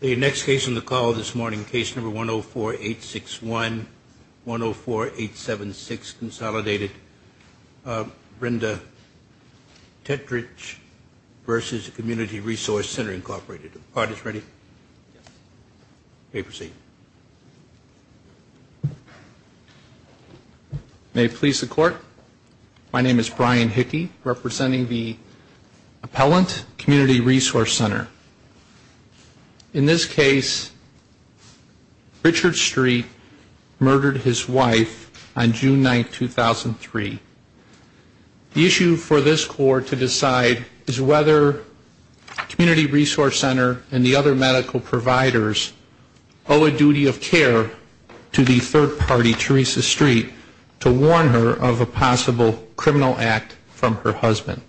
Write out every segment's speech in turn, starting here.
The next case on the call this morning, case number 104-861, 104-876, Consolidated, Brenda Tetrich v. Community Resource Center, Incorporated. Are the parties ready? May it please the Court, my name is Brian Hickey, representing the Appellant Community Resource Center. In this case, Richard Street murdered his wife on June 9, 2003. The issue for this Court to decide is whether Community Resource Center and the other medical providers owe a duty of care to the third party, Teresa Street, to warn her of a possible criminal act from her husband.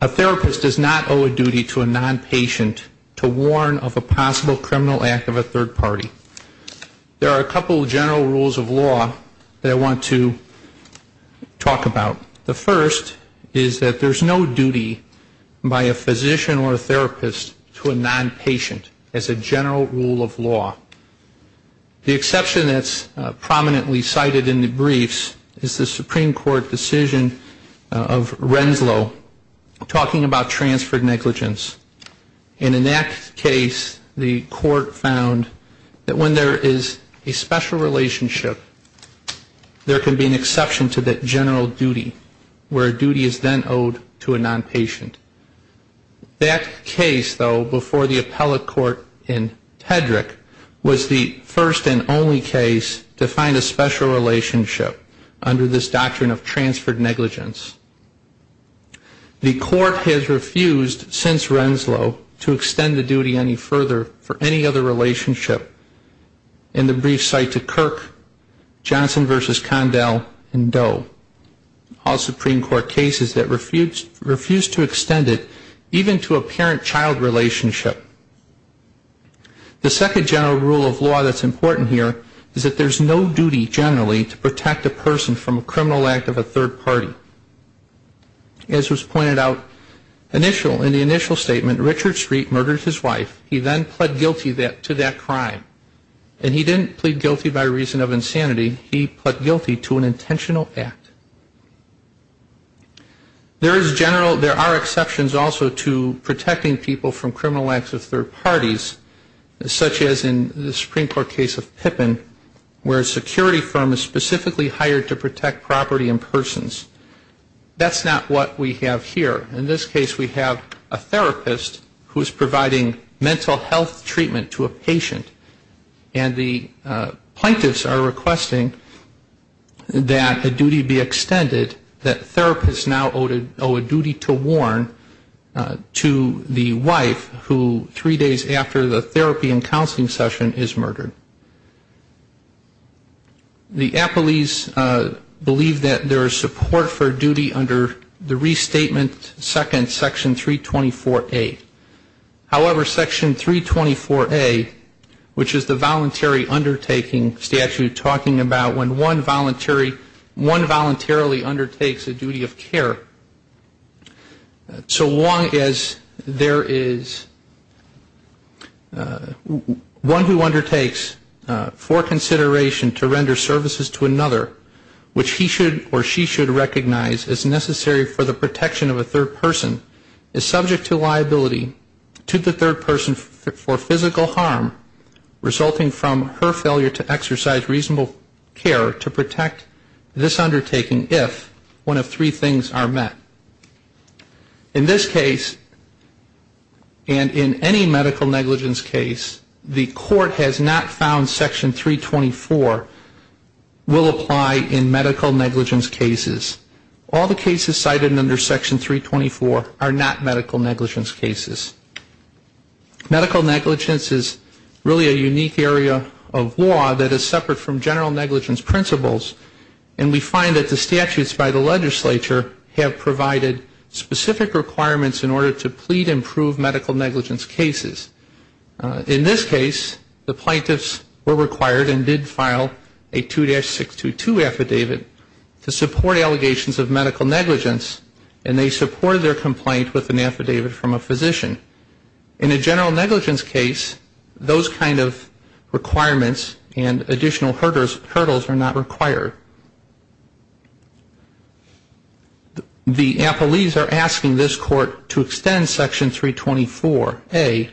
A therapist does not owe a duty to a nonpatient to warn of a possible criminal act of a third party. There are a couple of general rules of law that I want to talk about. The first is that there's no duty by a physician or a therapist to a nonpatient as a general rule of law. The exception that's prominently cited in the briefs is the Supreme Court decision of Renslow talking about transferred negligence. And in that case, the Court found that when there is a special relationship, there can be an exception to that general duty where a duty is then owed to a nonpatient. That case, though, before the Appellate Court in Tetrich was the first and only case to find a special relationship under this doctrine of transferred negligence. The Court has refused since Renslow to extend the duty any further for any other relationship in the briefs cited to Kirk, Johnson v. Condell, and Doe, all Supreme Court cases that refused to extend it even to a parent-child relationship. The second general rule of law that's important here is that there's no duty generally to protect a person from a criminal act of a third party. As was pointed out in the initial statement, Richard Street murdered his wife. He then pled guilty to that crime. And he didn't plead guilty by reason of insanity. He pled guilty to an intentional act. There are exceptions also to protecting people from criminal acts of third parties, such as in the Supreme Court case of Pippin, where a security firm is specifically hired to protect property and persons. That's not what we have here. In this case we have a therapist who is providing mental health treatment to a patient. And the plaintiffs are requesting that a duty be extended, that therapists now owe a duty to warn to the wife who three days after the therapy and counseling session is murdered. The appellees believe that there is support for duty under the restatement second, section 324A. However, section 324A, which is the voluntary undertaking statute, talking about when one voluntarily undertakes a duty of care, for consideration to render services to another, which he should or she should recognize as necessary for the protection of a third person, is subject to liability to the third person for physical harm, resulting from her failure to exercise reasonable care to protect this undertaking, if one of three things are met. In this case, and in any medical negligence case, the court has not found section 324 will apply in medical negligence cases. All the cases cited under section 324 are not medical negligence cases. Medical negligence is really a unique area of law that is separate from general negligence principles, and we find that the statutes by the legislature have provided specific requirements in order to plead and prove medical negligence cases. In this case, the plaintiffs were required and did file a 2-622 affidavit to support allegations of medical negligence, and they supported their complaint with an affidavit from a physician. In a general negligence case, those kind of requirements and additional hurdles are not required. The appellees are asking this court to extend section 324A,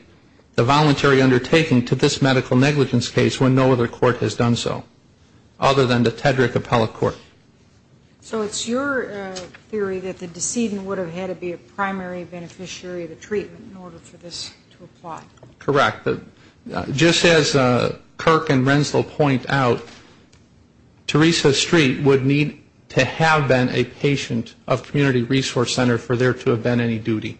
the voluntary undertaking to this medical negligence case, when no other court has done so, other than the Tedrick Appellate Court. So it's your theory that the decedent would have had to be a primary beneficiary of the treatment in order for this to apply? Correct. Just as Kirk and Renslow point out, Teresa Street would need to have been a patient of Community Resource Center for there to have been any duty.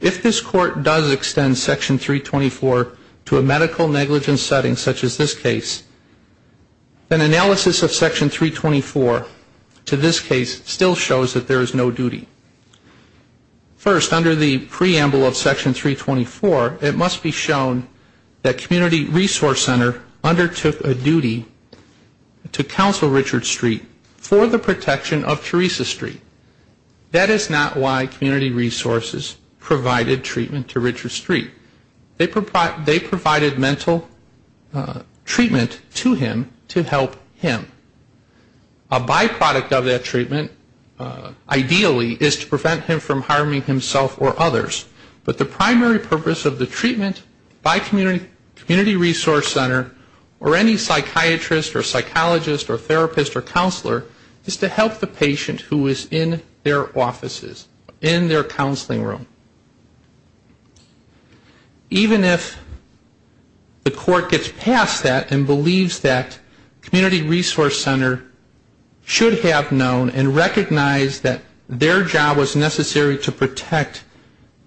If this court does extend section 324 to a medical negligence setting such as this case, then analysis of section 324 to this case still shows that there is no duty. First, under the preamble of section 324, it must be shown that Community Resource Center undertook a duty to counsel Richard Street for the protection of Teresa Street. That is not why Community Resources provided treatment to Richard Street. They provided mental treatment to him to help him. A byproduct of that treatment, ideally, is to prevent him from harming himself or others. But the primary purpose of the treatment by Community Resource Center or any psychiatrist or psychologist or therapist or counselor is to help the patient who is in their offices, in their counseling room. Even if the court gets past that and believes that Community Resource Center should have known and recognized that their job was necessary to protect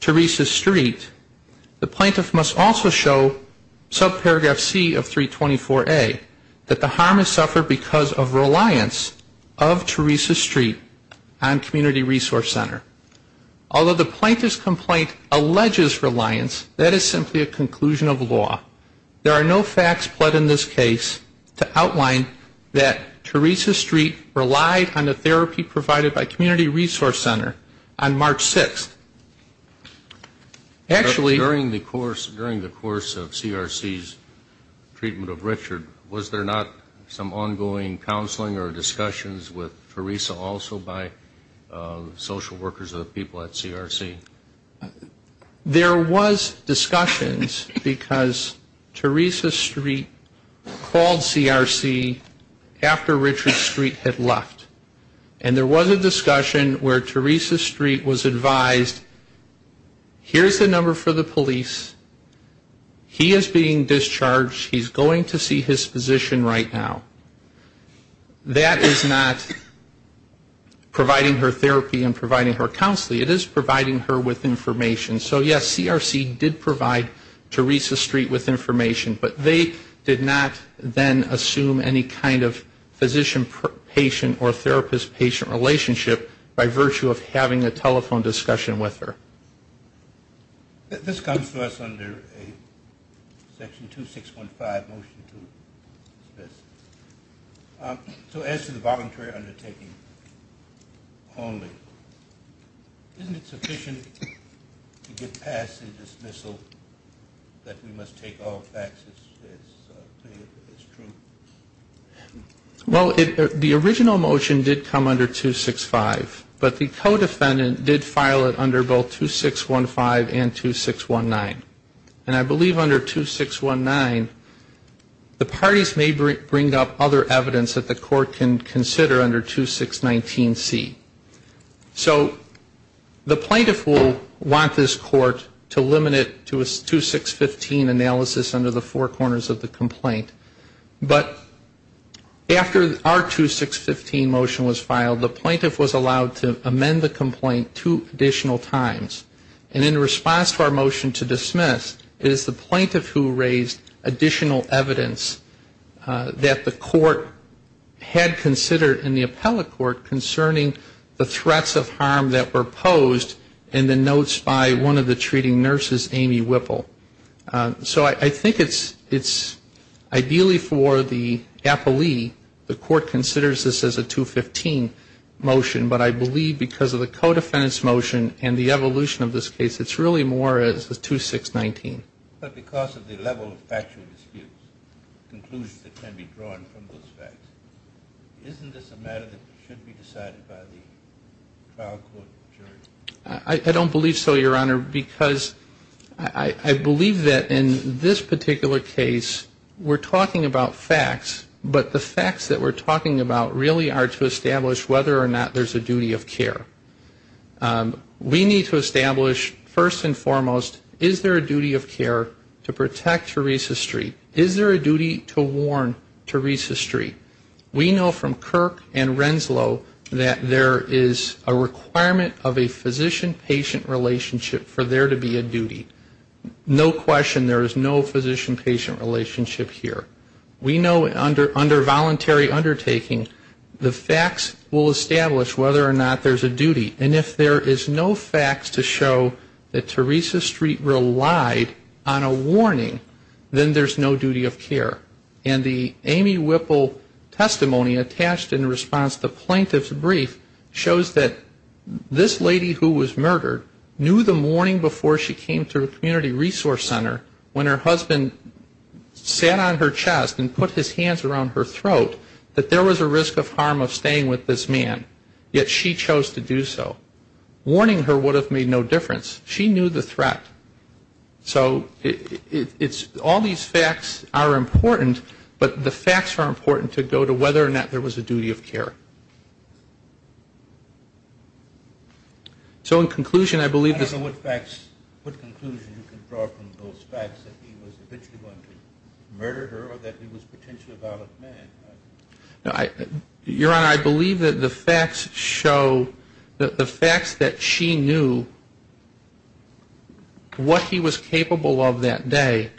Teresa Street, the plaintiff must also show subparagraph C of 324A, that the harm is suffered because of reliance of Teresa Street on Community Resource Center. Although the plaintiff's complaint alleges reliance, that is simply a conclusion of law. There are no facts put in this case to outline that Teresa Street relied on the therapy provided by Community Resource Center on March 6th. Actually... There was discussions because Teresa Street called CRC after Richard Street had left. And there was a discussion where Teresa Street was advised, here is the number for the police. He is being discharged. He is going to see his physician right now. That is not providing her therapy and providing her counseling. It is providing her with information. So yes, CRC did provide Teresa Street with information, but they did not then assume any kind of physician-patient or therapist-patient relationship by virtue of having a telephone discussion with her. This comes to us under Section 2615, Motion 2. So as to the voluntary undertaking only, isn't it sufficient to get past the dismissal that we must take all facts as true? Well, the original motion did come under 265, but the co-defendant did file it under both 2615 and 2619. And I believe under 2619, the parties may bring up other evidence that the court can consider under 2619C. So the plaintiff will want this court to limit it to a 2615 analysis under the four corners of the complaint. But after our 2615 motion was filed, the plaintiff was allowed to amend the complaint two additional times. And in response to our motion to dismiss, it is the plaintiff who raised additional evidence that the court had considered in the appellate court concerning the threats of harm that were posed in the notes by one of the treating nurses, Amy Whipple. So I think it's ideally for the appellee, the court considers this as a 215 motion, but I believe because of the co-defendant's motion and the evolution of this case, it's really more as the 2619. But because of the level of factual disputes, conclusions that can be drawn from those facts, isn't this a matter that should be decided by the trial court jury? I don't believe so, Your Honor, because I believe that in this particular case, we're talking about facts, but the facts that we're talking about really are to establish whether or not there's a duty of care. We need to establish first and foremost, is there a duty of care to protect Teresa Street? Is there a duty to warn Teresa Street? We know from Kirk and Renslow that there is a requirement of a physician-patient relationship for there to be a duty. No question there is no physician-patient relationship here. We know under voluntary undertaking, the facts will establish whether or not there's a duty. And if there is no facts to show that Teresa Street relied on a warning, then there's no duty of care. And the Amy Whipple testimony attached in response to the plaintiff's brief shows that this lady who was murdered knew the morning before she came to the community resource center when her husband sat on her chair and said, I'm going to stab you in the chest and put his hands around her throat, that there was a risk of harm of staying with this man, yet she chose to do so. Warning her would have made no difference. She knew the threat. So it's all these facts are important, but the facts are important to go to whether or not there was a duty of care. So in conclusion, I believe this is the case. Your Honor, I believe that the facts show that the facts that she knew what he was capable of that day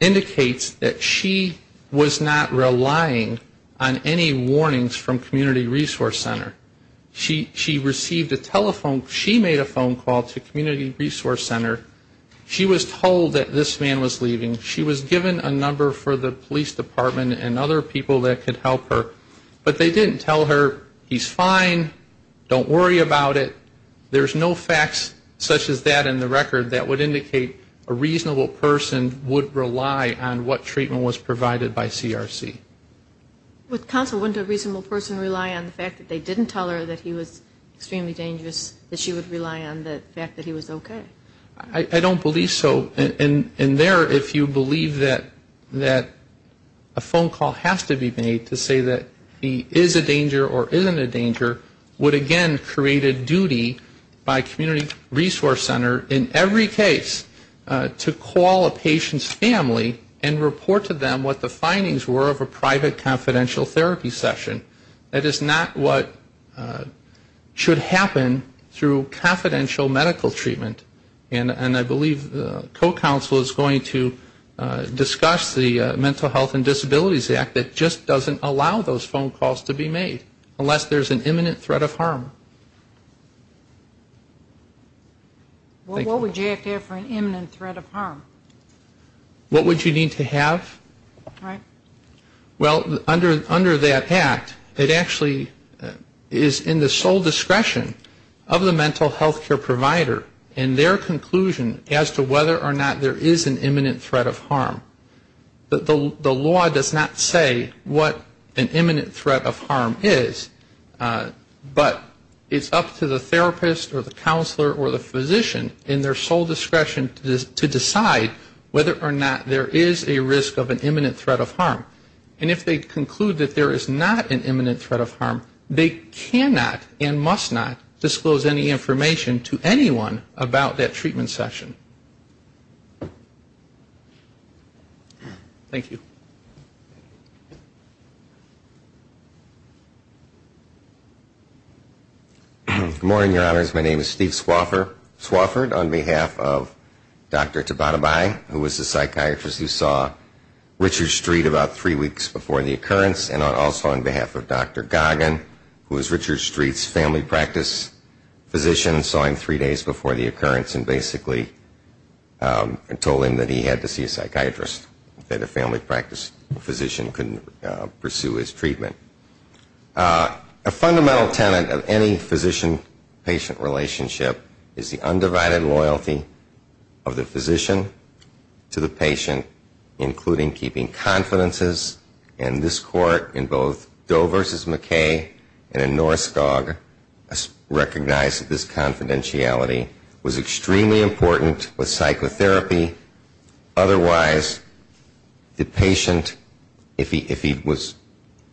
indicates that she was not relying on any warnings from community resource center. She received a telephone, she made a phone call to community resource center. She was told that this man was leaving. She was given a number for the police department and other people that could help her, but they didn't tell her, he's fine, don't worry about it. There's no facts such as that in the record that would indicate a reasonable person would rely on what treatment was provided by CRC. With counsel, wouldn't a reasonable person rely on the fact that they didn't tell her that he was extremely dangerous, that she would rely on the fact that he was okay? I don't believe so. And there, if you believe that a phone call has to be made to say that he is a danger or isn't a danger, would again create a duty by community resource center in every case to call a patient's family and report to them what the findings were of a private confidential therapy session. That is not what should happen through confidential therapy. That is confidential medical treatment. And I believe co-counsel is going to discuss the Mental Health and Disabilities Act that just doesn't allow those phone calls to be made, unless there's an imminent threat of harm. What would you have to have for an imminent threat of harm? What would you need to have? Well, under that Act, it actually is in the sole discretion of the mental health care provider and their conclusion as to whether or not there is an imminent threat of harm. The law does not say what an imminent threat of harm is, but it's up to the therapist or the counselor or the physician in their sole discretion to decide whether or not there is a risk of an imminent threat of harm. And if they conclude that there is not an imminent threat of harm, they cannot and must not disclose any information to anyone about that treatment session. Thank you. Good morning, Your Honors. My name is Steve Swofford. On behalf of Dr. Tabatabai, who was the psychiatrist who saw Dr. Richard Street about three weeks before the occurrence, and also on behalf of Dr. Goggin, who was Richard Street's family practice physician, saw him three days before the occurrence and basically told him that he had to see a psychiatrist, that a family practice physician couldn't pursue his treatment. A fundamental tenet of any physician-patient relationship is the undivided loyalty of the physician to the patient, including keeping confidences. And this Court, in both Doe v. McKay and in Norskog, recognized that this confidentiality was extremely important with psychotherapy. Otherwise, the patient, if he was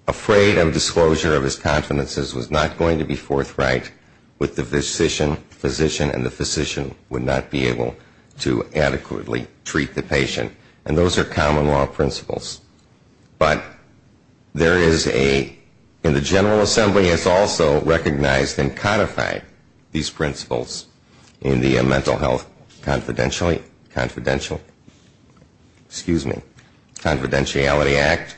afraid of disclosure of his confidences, was not going to be forthright with the physician, and the physician would not be able to adequately treat the patient. And those are common law principles. But there is a, and the General Assembly has also recognized and codified these principles in the Mental Health Confidentiality Act,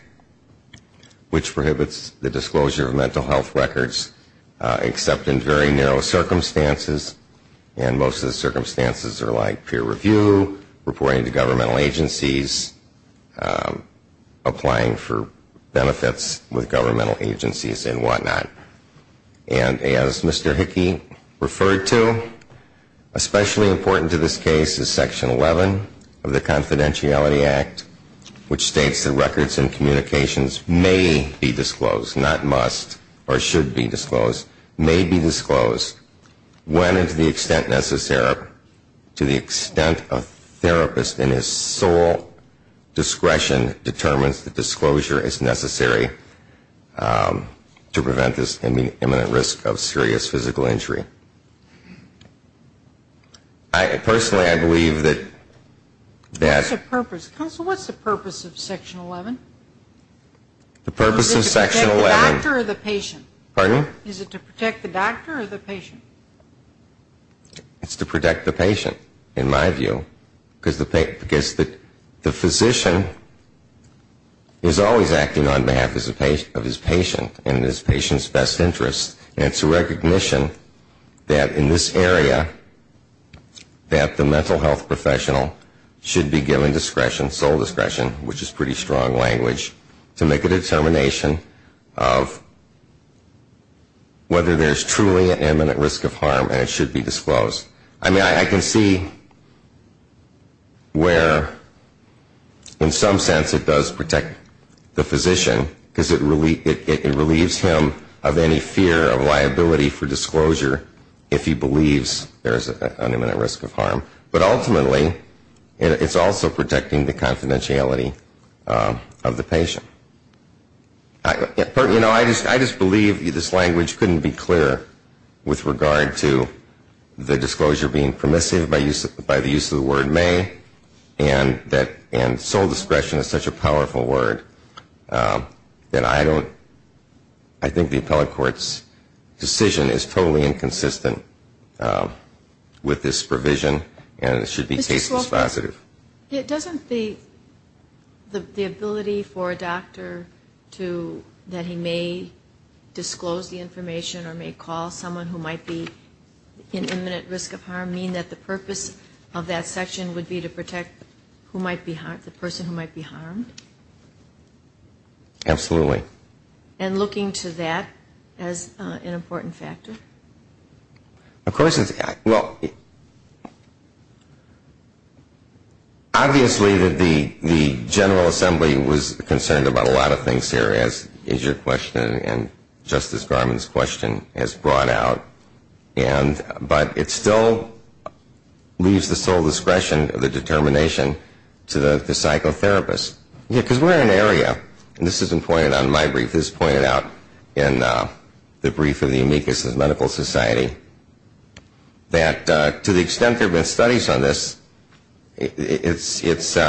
which prohibits the disclosure of mental health records except in very narrow circumstances. And most of the circumstances are like peer review, reporting to governmental agencies, applying for benefits with governmental agencies, and whatnot. And as Mr. Hickey referred to, especially important to this case is Section 11 of the Confidentiality Act, which states that records and communications may be disclosed, not must or should be disclosed, may be disclosed when the patient is presented to the extent necessary, to the extent a therapist in his sole discretion determines that disclosure is necessary to prevent this imminent risk of serious physical injury. I, personally, I believe that that's What's the purpose? Counsel, what's the purpose of Section 11? The purpose of Section 11 Is it to protect the doctor or the patient? It's to protect the patient, in my view. Because the physician is always acting on behalf of his patient and his patient's best interest. And it's a recognition that in this area, that the mental health professional should be given discretion, sole discretion, which is pretty strong language, to make a determination of whether there's truly an imminent risk of harm and it should be disclosed. I mean, I can see where, in some sense, it does protect the physician, because it relieves him of any fear of liability for disclosure if he believes there's an imminent risk of harm. But ultimately, it's also protecting the confidentiality of the patient. You know, I just believe this language couldn't be clearer with regard to the disclosure being permissive by the use of the word may, and sole discretion is such a powerful word, that I don't, I think the appellate court's decision is totally inconsistent with this provision, and it should be caseless positive. It doesn't the ability for a doctor to, that he may disclose the information or may call someone who might be in imminent risk of harm mean that the purpose of that section would be to protect who might be, the person who might be harmed? Absolutely. And looking to that as an important factor? Of course. Well, obviously the General Assembly was concerned about a lot of things here, as your question and Justice Garmon's question has brought out, but it still leaves the sole discretion of the determination to the psychotherapist. Because we're in an area, and this has been pointed out in my brief, this has been pointed out in the brief of the amicus of medical society, that to the extent there have been studies on this, it's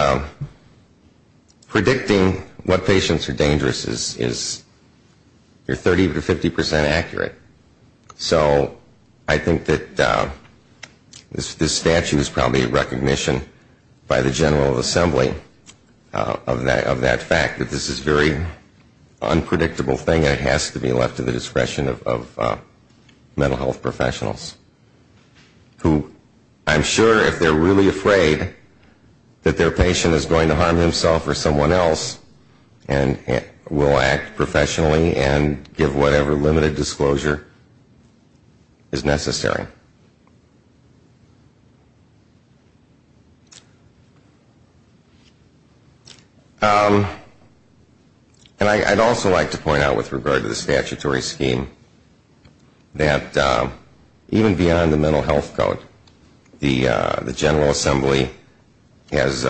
predicting what patients are dangerous is 30 to 50 percent accurate. So I think that this statute is probably a recognition by the General Assembly of that fact, that this is a very unpredictable thing, and it has to be left to the discretion of mental health professionals. Who, I'm sure if they're really afraid that their patient is going to harm himself or someone else, and will act in a way that's not going to harm him or her, is necessary. And I'd also like to point out with regard to the statutory scheme, that even beyond the mental health code, the General Assembly has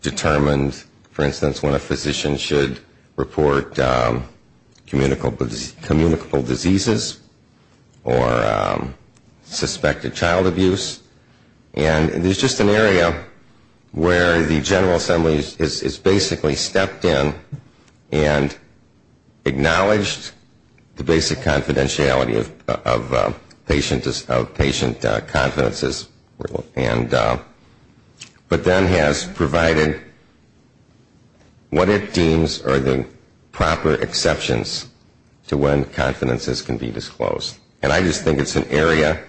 determined, for instance, when a physician should report communicable disease. And there's just an area where the General Assembly has basically stepped in and acknowledged the basic confidentiality of patient confidences, but then has provided what it deems are the proper exceptions to when confidences are required. And I just think it's an area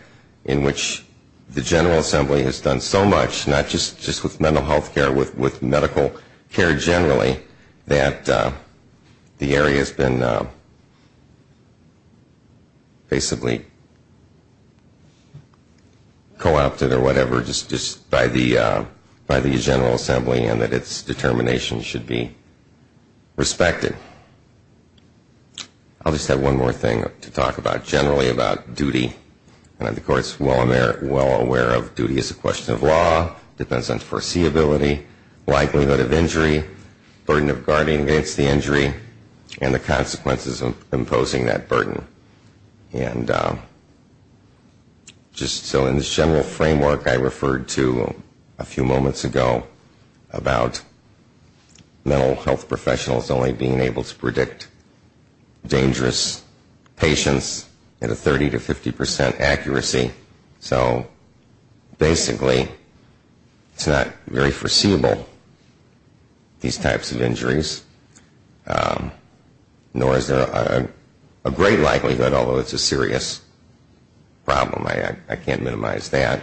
in which the General Assembly has done so much, not just with mental health care, with medical care generally, that the area has been basically co-opted or whatever, just by the General Assembly, and that its determination should be respected. I'll just have one more thing to talk about generally about duty. And the Court's well aware of duty as a question of law, depends on foreseeability, likelihood of injury, burden of guarding against the injury, and the consequences of imposing that burden. And just so in this general framework I referred to a few moments ago about mental health professionals only being able to predict dangerous patients at a 30 to 50 percent accuracy. So basically it's not very foreseeable, these types of injuries, nor is there a great likelihood, although it's a serious problem, I can't minimize that.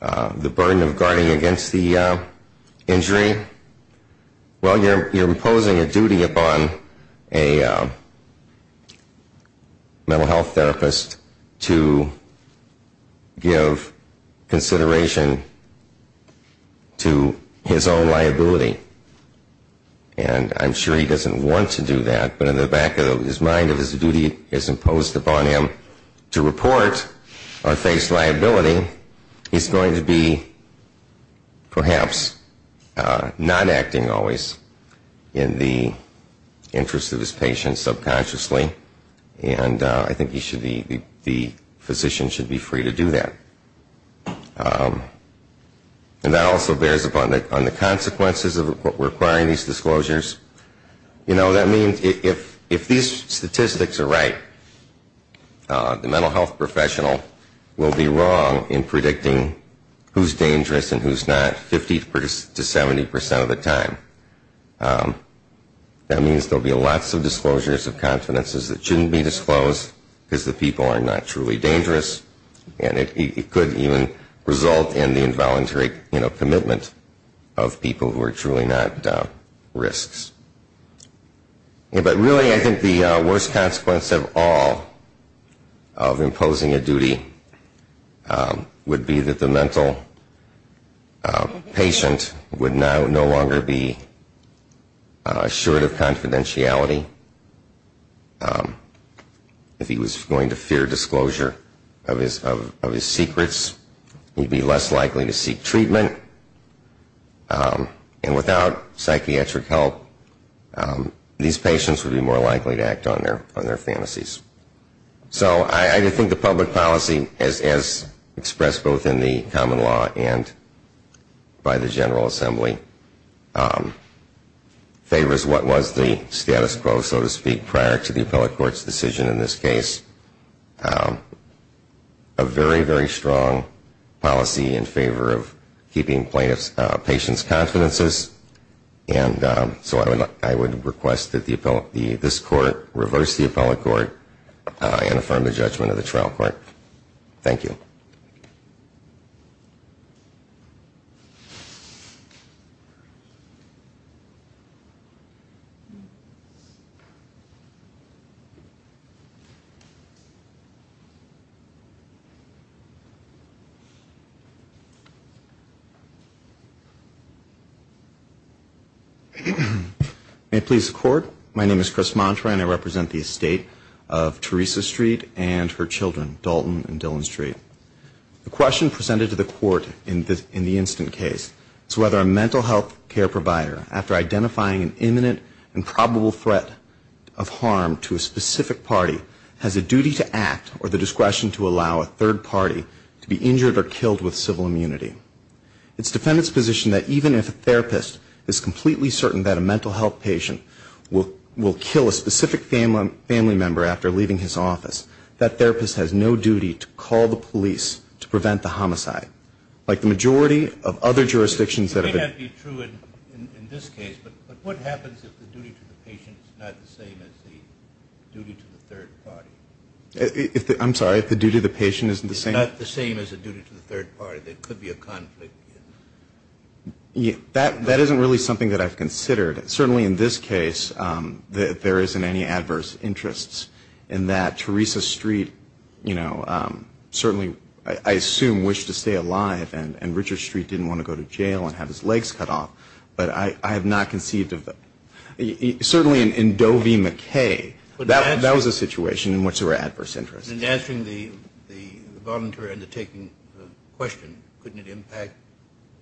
The burden of guarding against the injury, well, you're imposing a duty upon a mental health therapist to give consideration to his own liability. And I'm sure he doesn't want to do that, but in the back of his mind if his duty is imposed upon him to report or face liability, he's going to be perhaps not acting always in the interest of his patient subconsciously, and I think the physician should be free to do that. And that also bears upon the consequences of requiring these disclosures. You know, that means if these statistics are right, the mental health professional will be ruled out. And there's nothing wrong in predicting who's dangerous and who's not 50 to 70 percent of the time. That means there will be lots of disclosures of confidences that shouldn't be disclosed because the people are not truly dangerous, and it could even result in the involuntary commitment of people who are truly not risks. But really I think the worst consequence of all of imposing a duty upon a mental health professional is the fact that the mental patient would no longer be assured of confidentiality. If he was going to fear disclosure of his secrets, he'd be less likely to seek treatment. And without psychiatric help, these patients would be more likely to act on their fantasies. So I think the public policy, as expressed both in the common law and by the General Assembly, favors what was the status quo, so to speak, prior to the appellate court's decision in this case. A very, very strong policy in favor of keeping patients' confidences, and so I would request that this court reverse the appellate court and affirm the judgment of the trial court. Thank you. May it please the court, my name is Chris Mantra and I represent the estate of Teresa Street and her children, Dolph and Dalton and Dillon Street. The question presented to the court in the incident case is whether a mental health care provider, after identifying an imminent and probable threat of harm to a specific party, has a duty to act or the discretion to allow a third party to be injured or killed with civil immunity. It's defendant's position that even if a therapist is completely certain that a mental health patient will kill a specific family member after leaving his office, that therapist has no duty to call the police to prevent the homicide. Like the majority of other jurisdictions that have been... It may not be true in this case, but what happens if the duty to the patient is not the same as the duty to the third party? I'm sorry, if the duty to the patient isn't the same? It's not the same as the duty to the third party. There could be a conflict. That isn't really something that I've considered. Certainly in this case, there isn't any adverse interests in that. Teresa Street certainly, I assume, wished to stay alive and Richard Street didn't want to go to jail and have his legs cut off. But I have not conceived of that. Certainly in Doe v. McKay, that was a situation in which there were adverse interests. In answering the voluntary undertaking question, couldn't it impact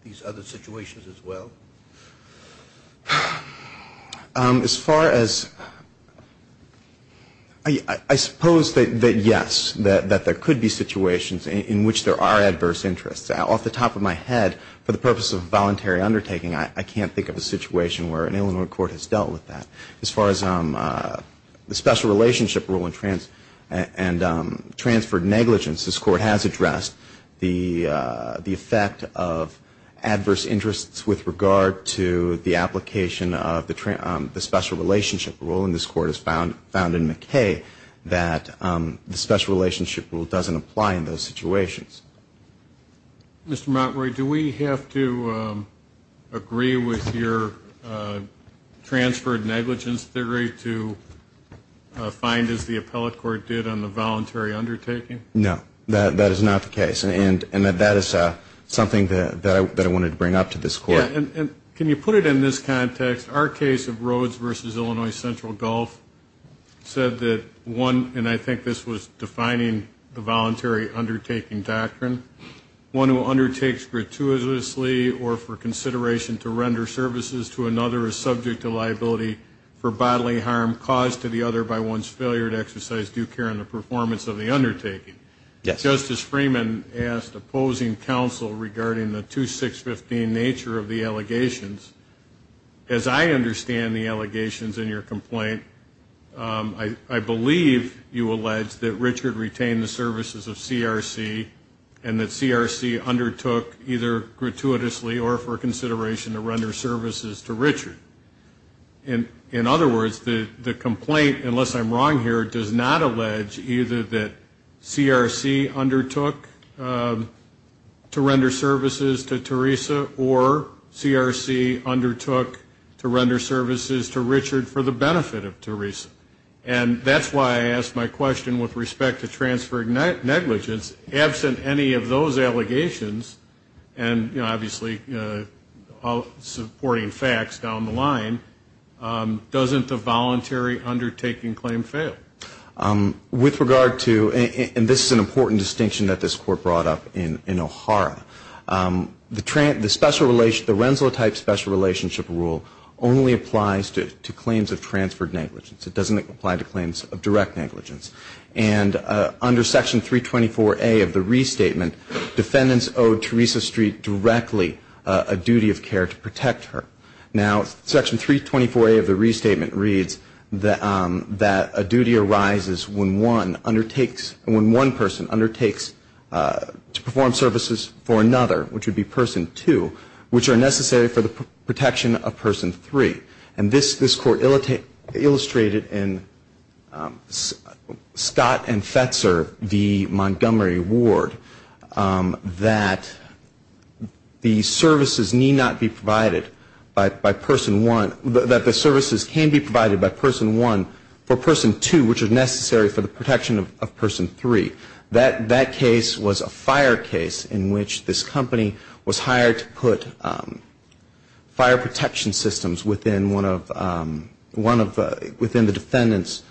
these other situations as well? As far as... I suppose that yes, that there could be situations in which there are adverse interests. Off the top of my head, for the purpose of voluntary undertaking, I can't think of a situation where an Illinois court has dealt with that. As far as the special relationship rule and transferred negligence, this court has addressed the effect of adverse interests with regard to the application of the special relationship rule. And this court has found in McKay that the special relationship rule doesn't apply in those situations. Mr. Montroy, do we have to agree with your transferred negligence? Do we have to agree to find as the appellate court did on the voluntary undertaking? No, that is not the case. And that is something that I wanted to bring up to this court. Can you put it in this context? Our case of Rhodes v. Illinois Central Gulf said that one, and I think this was defining the voluntary undertaking doctrine, one who undertakes gratuitously or for consideration to render services to another is subject to liability for bodily harm caused to the other by one's failure to exercise due care in the performance of the undertaking. Justice Freeman asked opposing counsel regarding the 2-6-15 nature of the allegations. As I understand the allegations in your complaint, I believe you allege that Richard retained the services of CRC and that CRC undertook either gratuitously or for consideration to render services to Richard. In other words, the complaint, unless I'm wrong here, does not allege either that CRC undertook to render services to Teresa or CRC undertook to render services to Richard for the benefit of Teresa. And that's why I asked my question with respect to transferred negligence. Absent any of those allegations, and obviously supporting facts down the line, doesn't the voluntary undertaking claim fail? With regard to, and this is an important distinction that this Court brought up in O'Hara, the Renssela type special relationship rule only applies to claims of transferred negligence. It doesn't apply to claims of direct negligence. And under Section 324A of the Restatement, defendants owe Teresa Street directly a duty of care to protect her. Now, Section 324A of the Restatement reads that a duty arises when one undertakes, when one person undertakes to perform services for another, which would be Person 2, which are necessary for the protection of Person 3. And this Court illustrated in Scott and Fetzer v. Montgomery Ward, that the services need not be provided by Person 1, that the services can be provided by Person 1 for Person 2, which are necessary for the protection of Person 3. That case was a fire case in which this company was hired to put fire protection systems within the home. Within one of the defendants,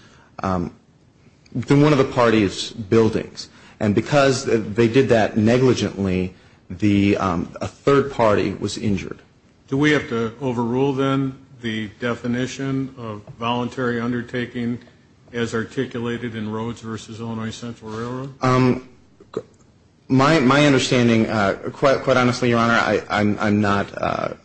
within one of the party's buildings. And because they did that negligently, a third party was injured. Do we have to overrule, then, the definition of voluntary undertaking as articulated in Rhodes v. Illinois Central Railroad? My understanding, quite honestly, Your Honor, I'm not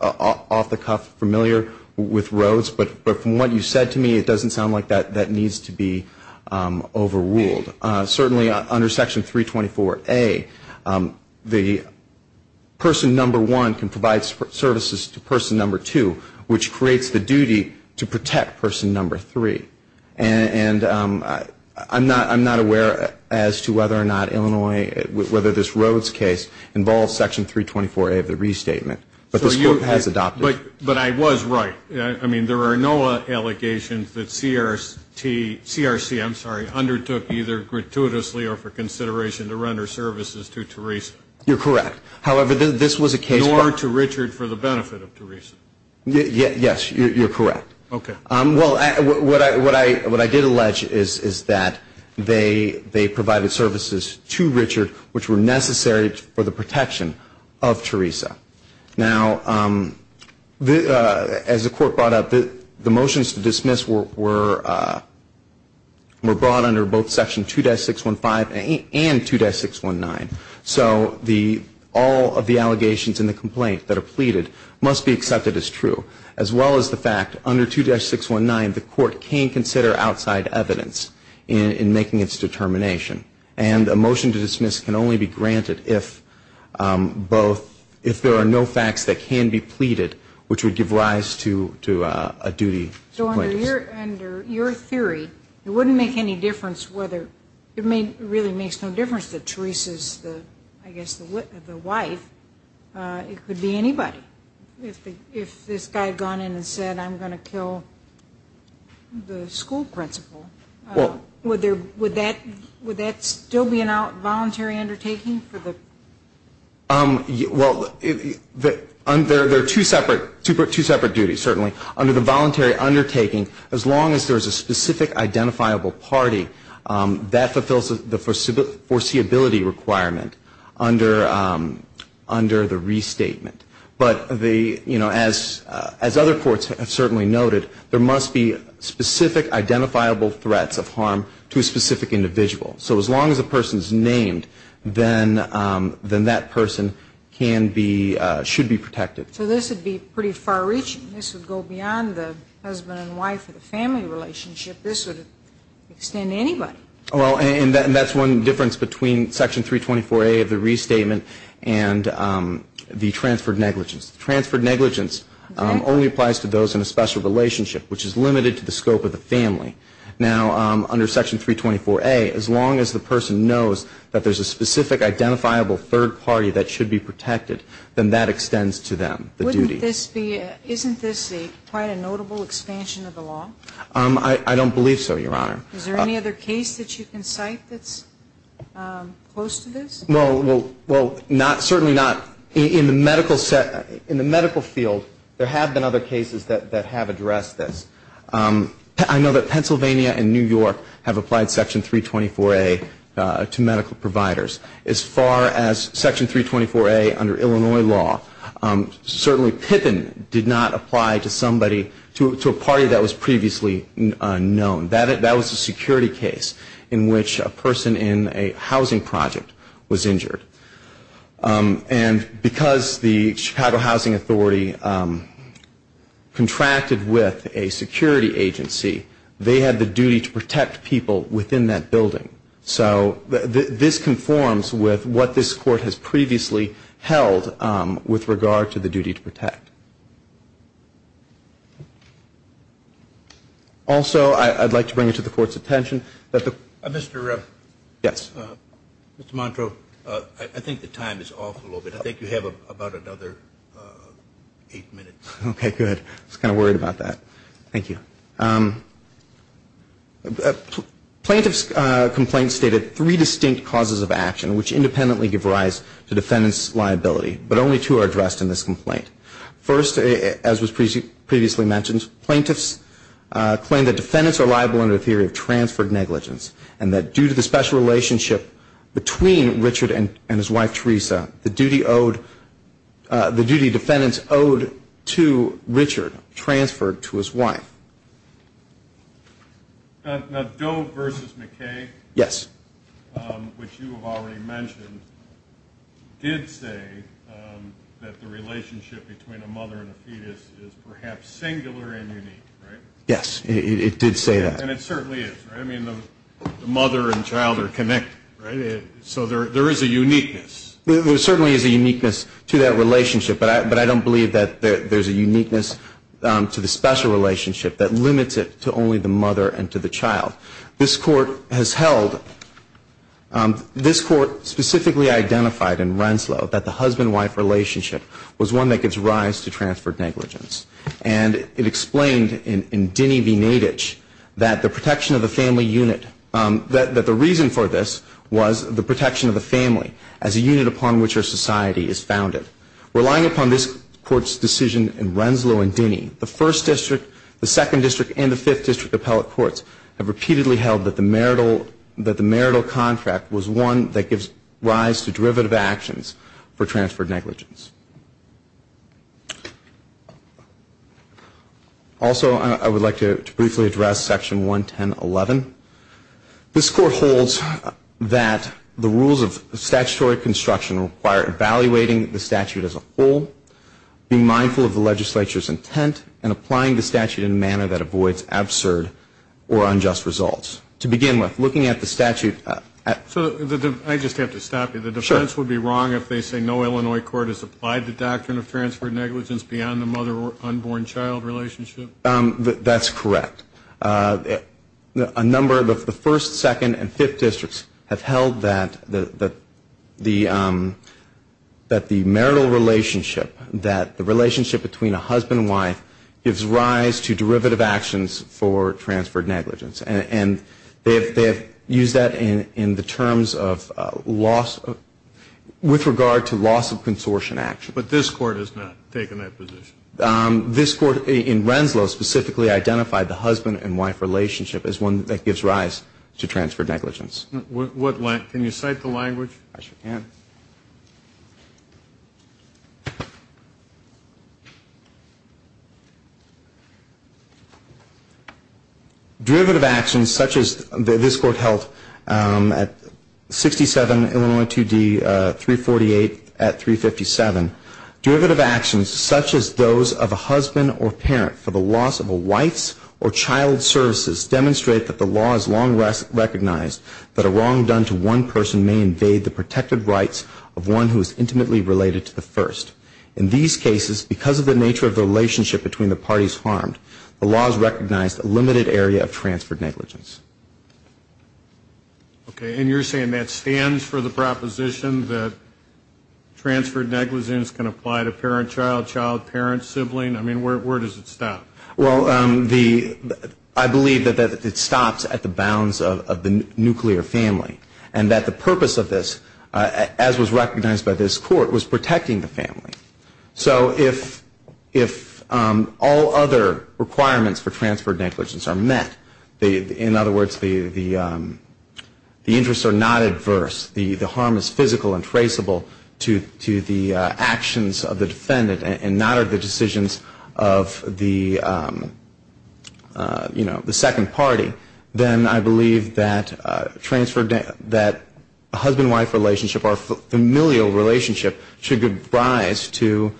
off the cuff familiar with that definition. With Rhodes, but from what you said to me, it doesn't sound like that needs to be overruled. Certainly under Section 324A, the Person 1 can provide services to Person 2, which creates the duty to protect Person 3. And I'm not aware as to whether or not Illinois, whether this Rhodes case involves Section 324A of the Restatement. But this Court has adopted it. But I was right. I mean, there are no allegations that CRC undertook either gratuitously or for consideration to render services to Teresa. You're correct. Nor to Richard for the benefit of Teresa. Yes, you're correct. Okay. Well, what I did allege is that they provided services to Richard, which were necessary for the protection of Teresa. Now, as the Court brought up, the motions to dismiss were brought under both Section 2-615 and 2-619. So all of the allegations in the complaint that are pleaded must be accepted as true, as well as the fact under 2-619 the Court can consider outside evidence in making its determination. And a motion to dismiss can only be granted if both, if there are no facts that can be pleaded, which would give rise to a duty. So under your theory, it wouldn't make any difference whether, it really makes no difference that Teresa's, I guess, the wife, it could be anybody. If this guy had gone in and said, I'm going to kill the school principal, would that still be a voluntary undertaking? Well, they're two separate duties, certainly. Under the voluntary undertaking, as long as there's a specific identifiable party, that fulfills the foreseeability requirement under the restatement. But the, you know, as other courts have certainly noted, there must be specific identifiable threats of harm to a specific individual. So as long as the person's named, then that person can be, should be protected. So this would be pretty far-reaching. This would go beyond the husband and wife and the family relationship. This would extend to anybody. Well, and that's one difference between Section 324A of the restatement and the transferred negligence. The transferred negligence only applies to those in a special relationship, which is limited to the scope of the family. Now, under Section 324A, as long as the person knows that there's a specific identifiable third party that should be protected, then that extends to them, the duty. Would this be, isn't this quite a notable expansion of the law? I don't believe so, Your Honor. Is there any other case that you can cite that's close to this? Well, certainly not in the medical field. There have been other cases that have addressed this. I know that Pennsylvania and New York have applied Section 324A to medical providers. As far as Section 324A under Illinois law, certainly Pippin did not apply to somebody, to a party that was previously known. That was a security case in which a person in a housing project was injured. And because the Chicago Housing Authority contracted with a security company, a security agency, they had the duty to protect people within that building. So this conforms with what this Court has previously held with regard to the duty to protect. Also, I'd like to bring it to the Court's attention that the ---- Mr. Montro, I think the time is off a little bit. I think you have about another eight minutes. Okay, good. I was kind of worried about that. Thank you. Plaintiff's complaint stated three distinct causes of action which independently give rise to defendant's liability, but only two are addressed in this complaint. First, as was previously mentioned, plaintiffs claim that defendants are liable under a theory of transferred negligence and that due to the special relationship between Richard and his wife Teresa, the duty defendants owed to Richard transferred to his wife. Now, Doe v. McKay, which you have already mentioned, did say that the relationship between a mother and a fetus is perhaps singular and unique, right? Yes, it did say that. And it certainly is, right? I mean, the mother and child are connected, right? So there is a uniqueness. There certainly is a uniqueness to that relationship, but I don't believe that there's a uniqueness to the special relationship that limits it to only the mother and to the child. This Court has held, this Court specifically identified in Renslow that the husband-wife relationship was one that gives rise to transferred negligence. And it explained in Dinny v. Nadich that the protection of the family unit, that the reason for this was the protection of the family as a unit upon which our society is founded. Relying upon this Court's decision in Renslow and Dinny, the First District, the Second District, and the Fifth District appellate courts have repeatedly held that the marital contract was one that gives rise to derivative actions for transferred negligence. Also, I would like to briefly address Section 110.11. This Court holds that the rules of statutory construction require evaluating the statute as a whole, being mindful of the legislature's intent, and applying the statute in a manner that avoids absurd or unjust results. To begin with, looking at the statute. I just have to stop you. The defense would be wrong if they say no Illinois court has applied the doctrine of transferred negligence beyond the mother-unborn-child relationship. That's correct. A number of the First, Second, and Fifth Districts have held that the marital relationship, that the relationship between a husband and wife, gives rise to derivative actions for transferred negligence. And they have used that in the terms of loss, with regard to loss of consortium action. But this Court has not taken that position. This Court in Renslow specifically identified the husband and wife relationship as one that gives rise to transferred negligence. Can you cite the language? Derivative actions such as this Court held at 67 Illinois 2D, 348 at 357. Derivative actions such as those of a husband or parent for the loss of a wife's or child's services demonstrate that the law has long recognized that a wrong done to one person may invade the protected rights of one who is intimately related to the first. In these cases, because of the nature of the relationship between the parties harmed, the law has recognized a limited area of transferred negligence. Okay. And you're saying that stands for the proposition that transferred negligence can apply to parent-child, child-parent, sibling? I mean, where does it stop? Well, I believe that it stops at the bounds of the nuclear family. And that the purpose of this, as was recognized by this Court, was protecting the family. So if all other requirements for transferred negligence are met, in other words, the interests are not adverse, the harm is physical and traceable to the actions of the defendant and not of the decisions of the, you know, the second party, then I believe that husband-wife relationship or familial relationship should give rise to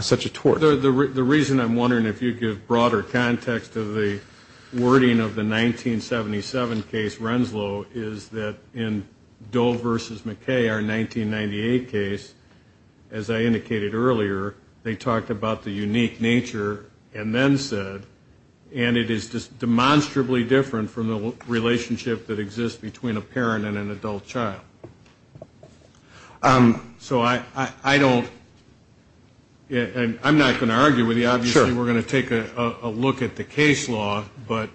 such a tort. The reason I'm wondering if you give broader context of the wording of the 1977 case, is that in Doe v. McKay, our 1998 case, as I indicated earlier, they talked about the unique nature and then said, and it is demonstrably different from the relationship that exists between a parent and an adult child. So I don't, and I'm not going to argue with you. Obviously, we're going to take a look at the case law, but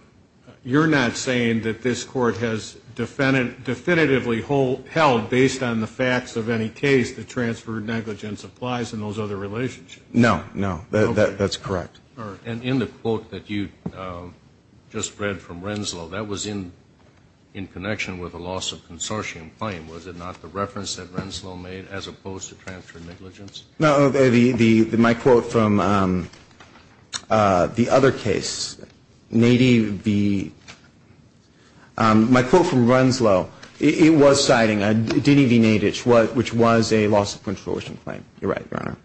you're not saying that this Court has definitively held, based on the facts of any case, that transferred negligence applies in those other relationships? No, no, that's correct. And in the quote that you just read from Renslow, that was in connection with the loss of consortium claim, was it not the reference that Renslow made as opposed to transferred negligence? No, my quote from the other case, Nadie v. my quote from Renslow, it was citing Dini v. Nadich, which was a loss of consortium claim. You're right, Your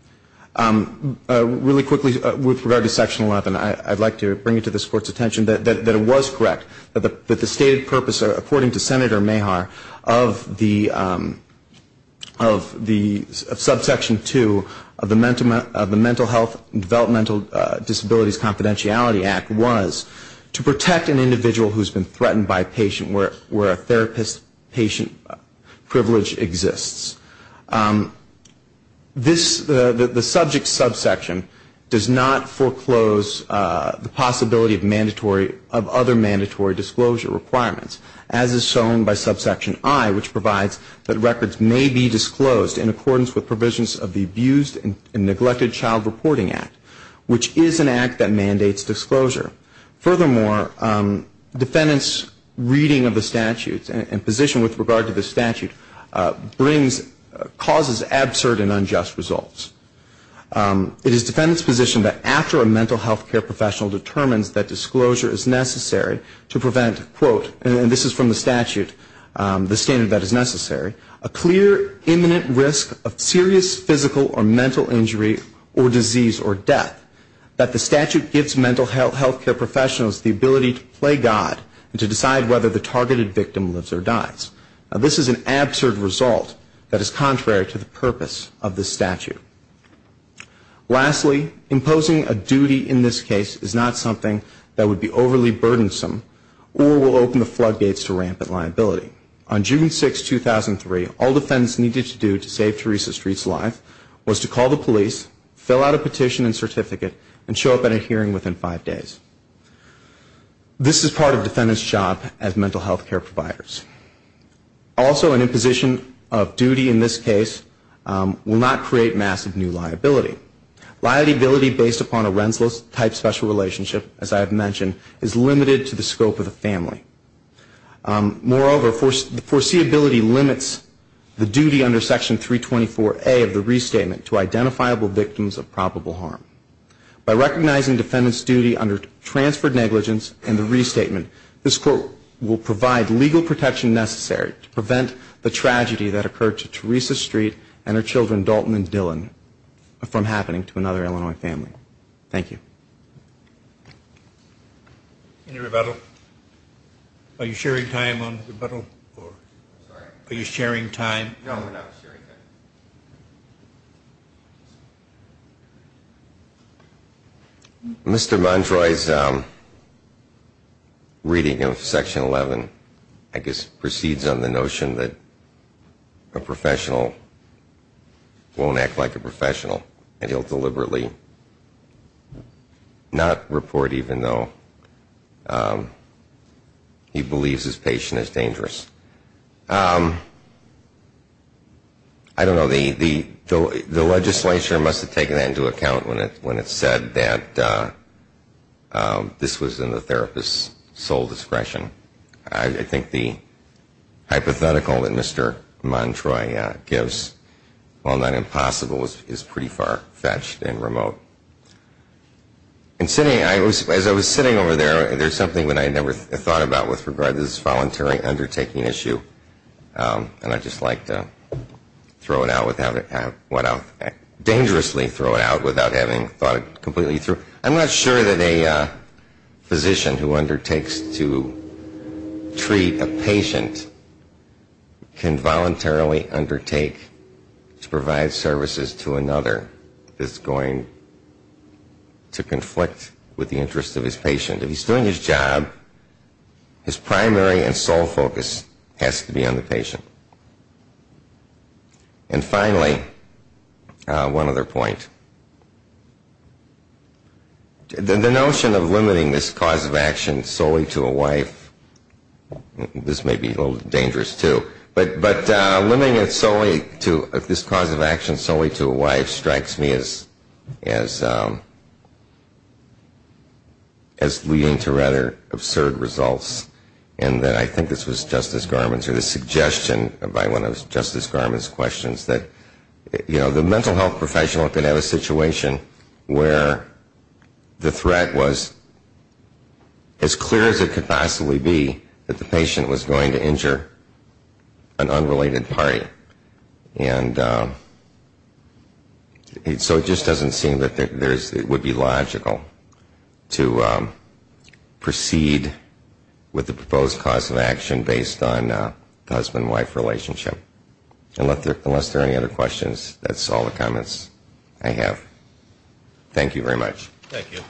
Honor. Really quickly, with regard to Section 11, I'd like to bring it to this Court's attention that it was correct, that the stated purpose, according to Senator Mehar, of the subsection 2 of the Mental Health and Developmental Disabilities Confidentiality Act, was to protect an individual who has been threatened by a patient where a therapist-patient privilege exists. The subject subsection does not foreclose the possibility of other mandatory disclosure requirements, as is shown by subsection I, which provides that records may be disclosed in accordance with provisions of the Abused and Neglected Child Reporting Act, which is an act that mandates disclosure. Furthermore, defendants' reading of the statute and position with regard to the statute causes absurd and unjust results. It is defendants' position that after a mental health care professional determines that disclosure is necessary to prevent, quote, and this is from the statute, the standard that is necessary, a clear imminent risk of serious physical or mental injury or disease or death that the statute gives mental health care professionals the ability to play God and to decide whether the targeted victim lives or dies. This is an absurd result that is contrary to the purpose of the statute. Lastly, imposing a duty in this case is not something that would be overly burdensome or will open the floodgates to rampant liability. On June 6, 2003, all defendants needed to do to save Teresa Street's life was to call the police, fill out a petition and certificate, and show up at a hearing within five days. This is part of defendants' job as mental health care providers. Also, an imposition of duty in this case will not create massive new liability. Liability based upon a Rensselaer-type special relationship, as I have mentioned, is limited to the scope of the family. Moreover, foreseeability limits the duty under Section 324A of the restatement to identifiable victims of probable harm. By recognizing defendants' duty under transferred negligence and the restatement, this court will provide legal protection necessary to prevent the tragedy that occurred to Teresa Street and her children Dalton and Dylan from happening to another Illinois family. Thank you. Any rebuttal? Are you sharing time on rebuttal? Are you sharing time? No, I'm not sharing time. Mr. Montroy's reading of Section 11, I guess, proceeds on the notion that a professional won't act like a professional and he'll deliberately not report even though he believes his patient is dangerous. I don't know. The legislature must have taken that into account when it said that this was in the therapist's sole discretion. I think the hypothetical that Mr. Montroy gives, while not impossible, is pretty far-fetched and remote. As I was sitting over there, there's something that I never thought about with regard to this voluntary undertaking issue, and I'd just like to throw it out without having thought it completely through. I'm not sure that a physician who undertakes to treat a patient can voluntarily undertake to provide services to another that's going to conflict with the interest of his patient. If he's doing his job, his primary and sole focus has to be on the patient. And finally, one other point. The notion of limiting this cause of action solely to a wife, this may be a little dangerous, too, but limiting this cause of action solely to a wife strikes me as leading to rather absurd results, and I think this was Justice Garmon's suggestion, by one of Justice Garmon's questions, that the mental health professional could have a situation where the threat was as clear as it could possibly be that the patient was going to injure an unrelated party. And so it just doesn't seem that it would be logical to proceed with the proposed cause of action based on husband-wife relationship, unless there are any other questions. That's all the comments I have. Thank you very much. Thank you.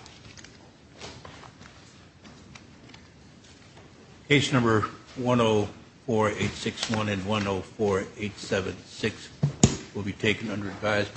Case number 104861 and 104876 will be taken under advisement.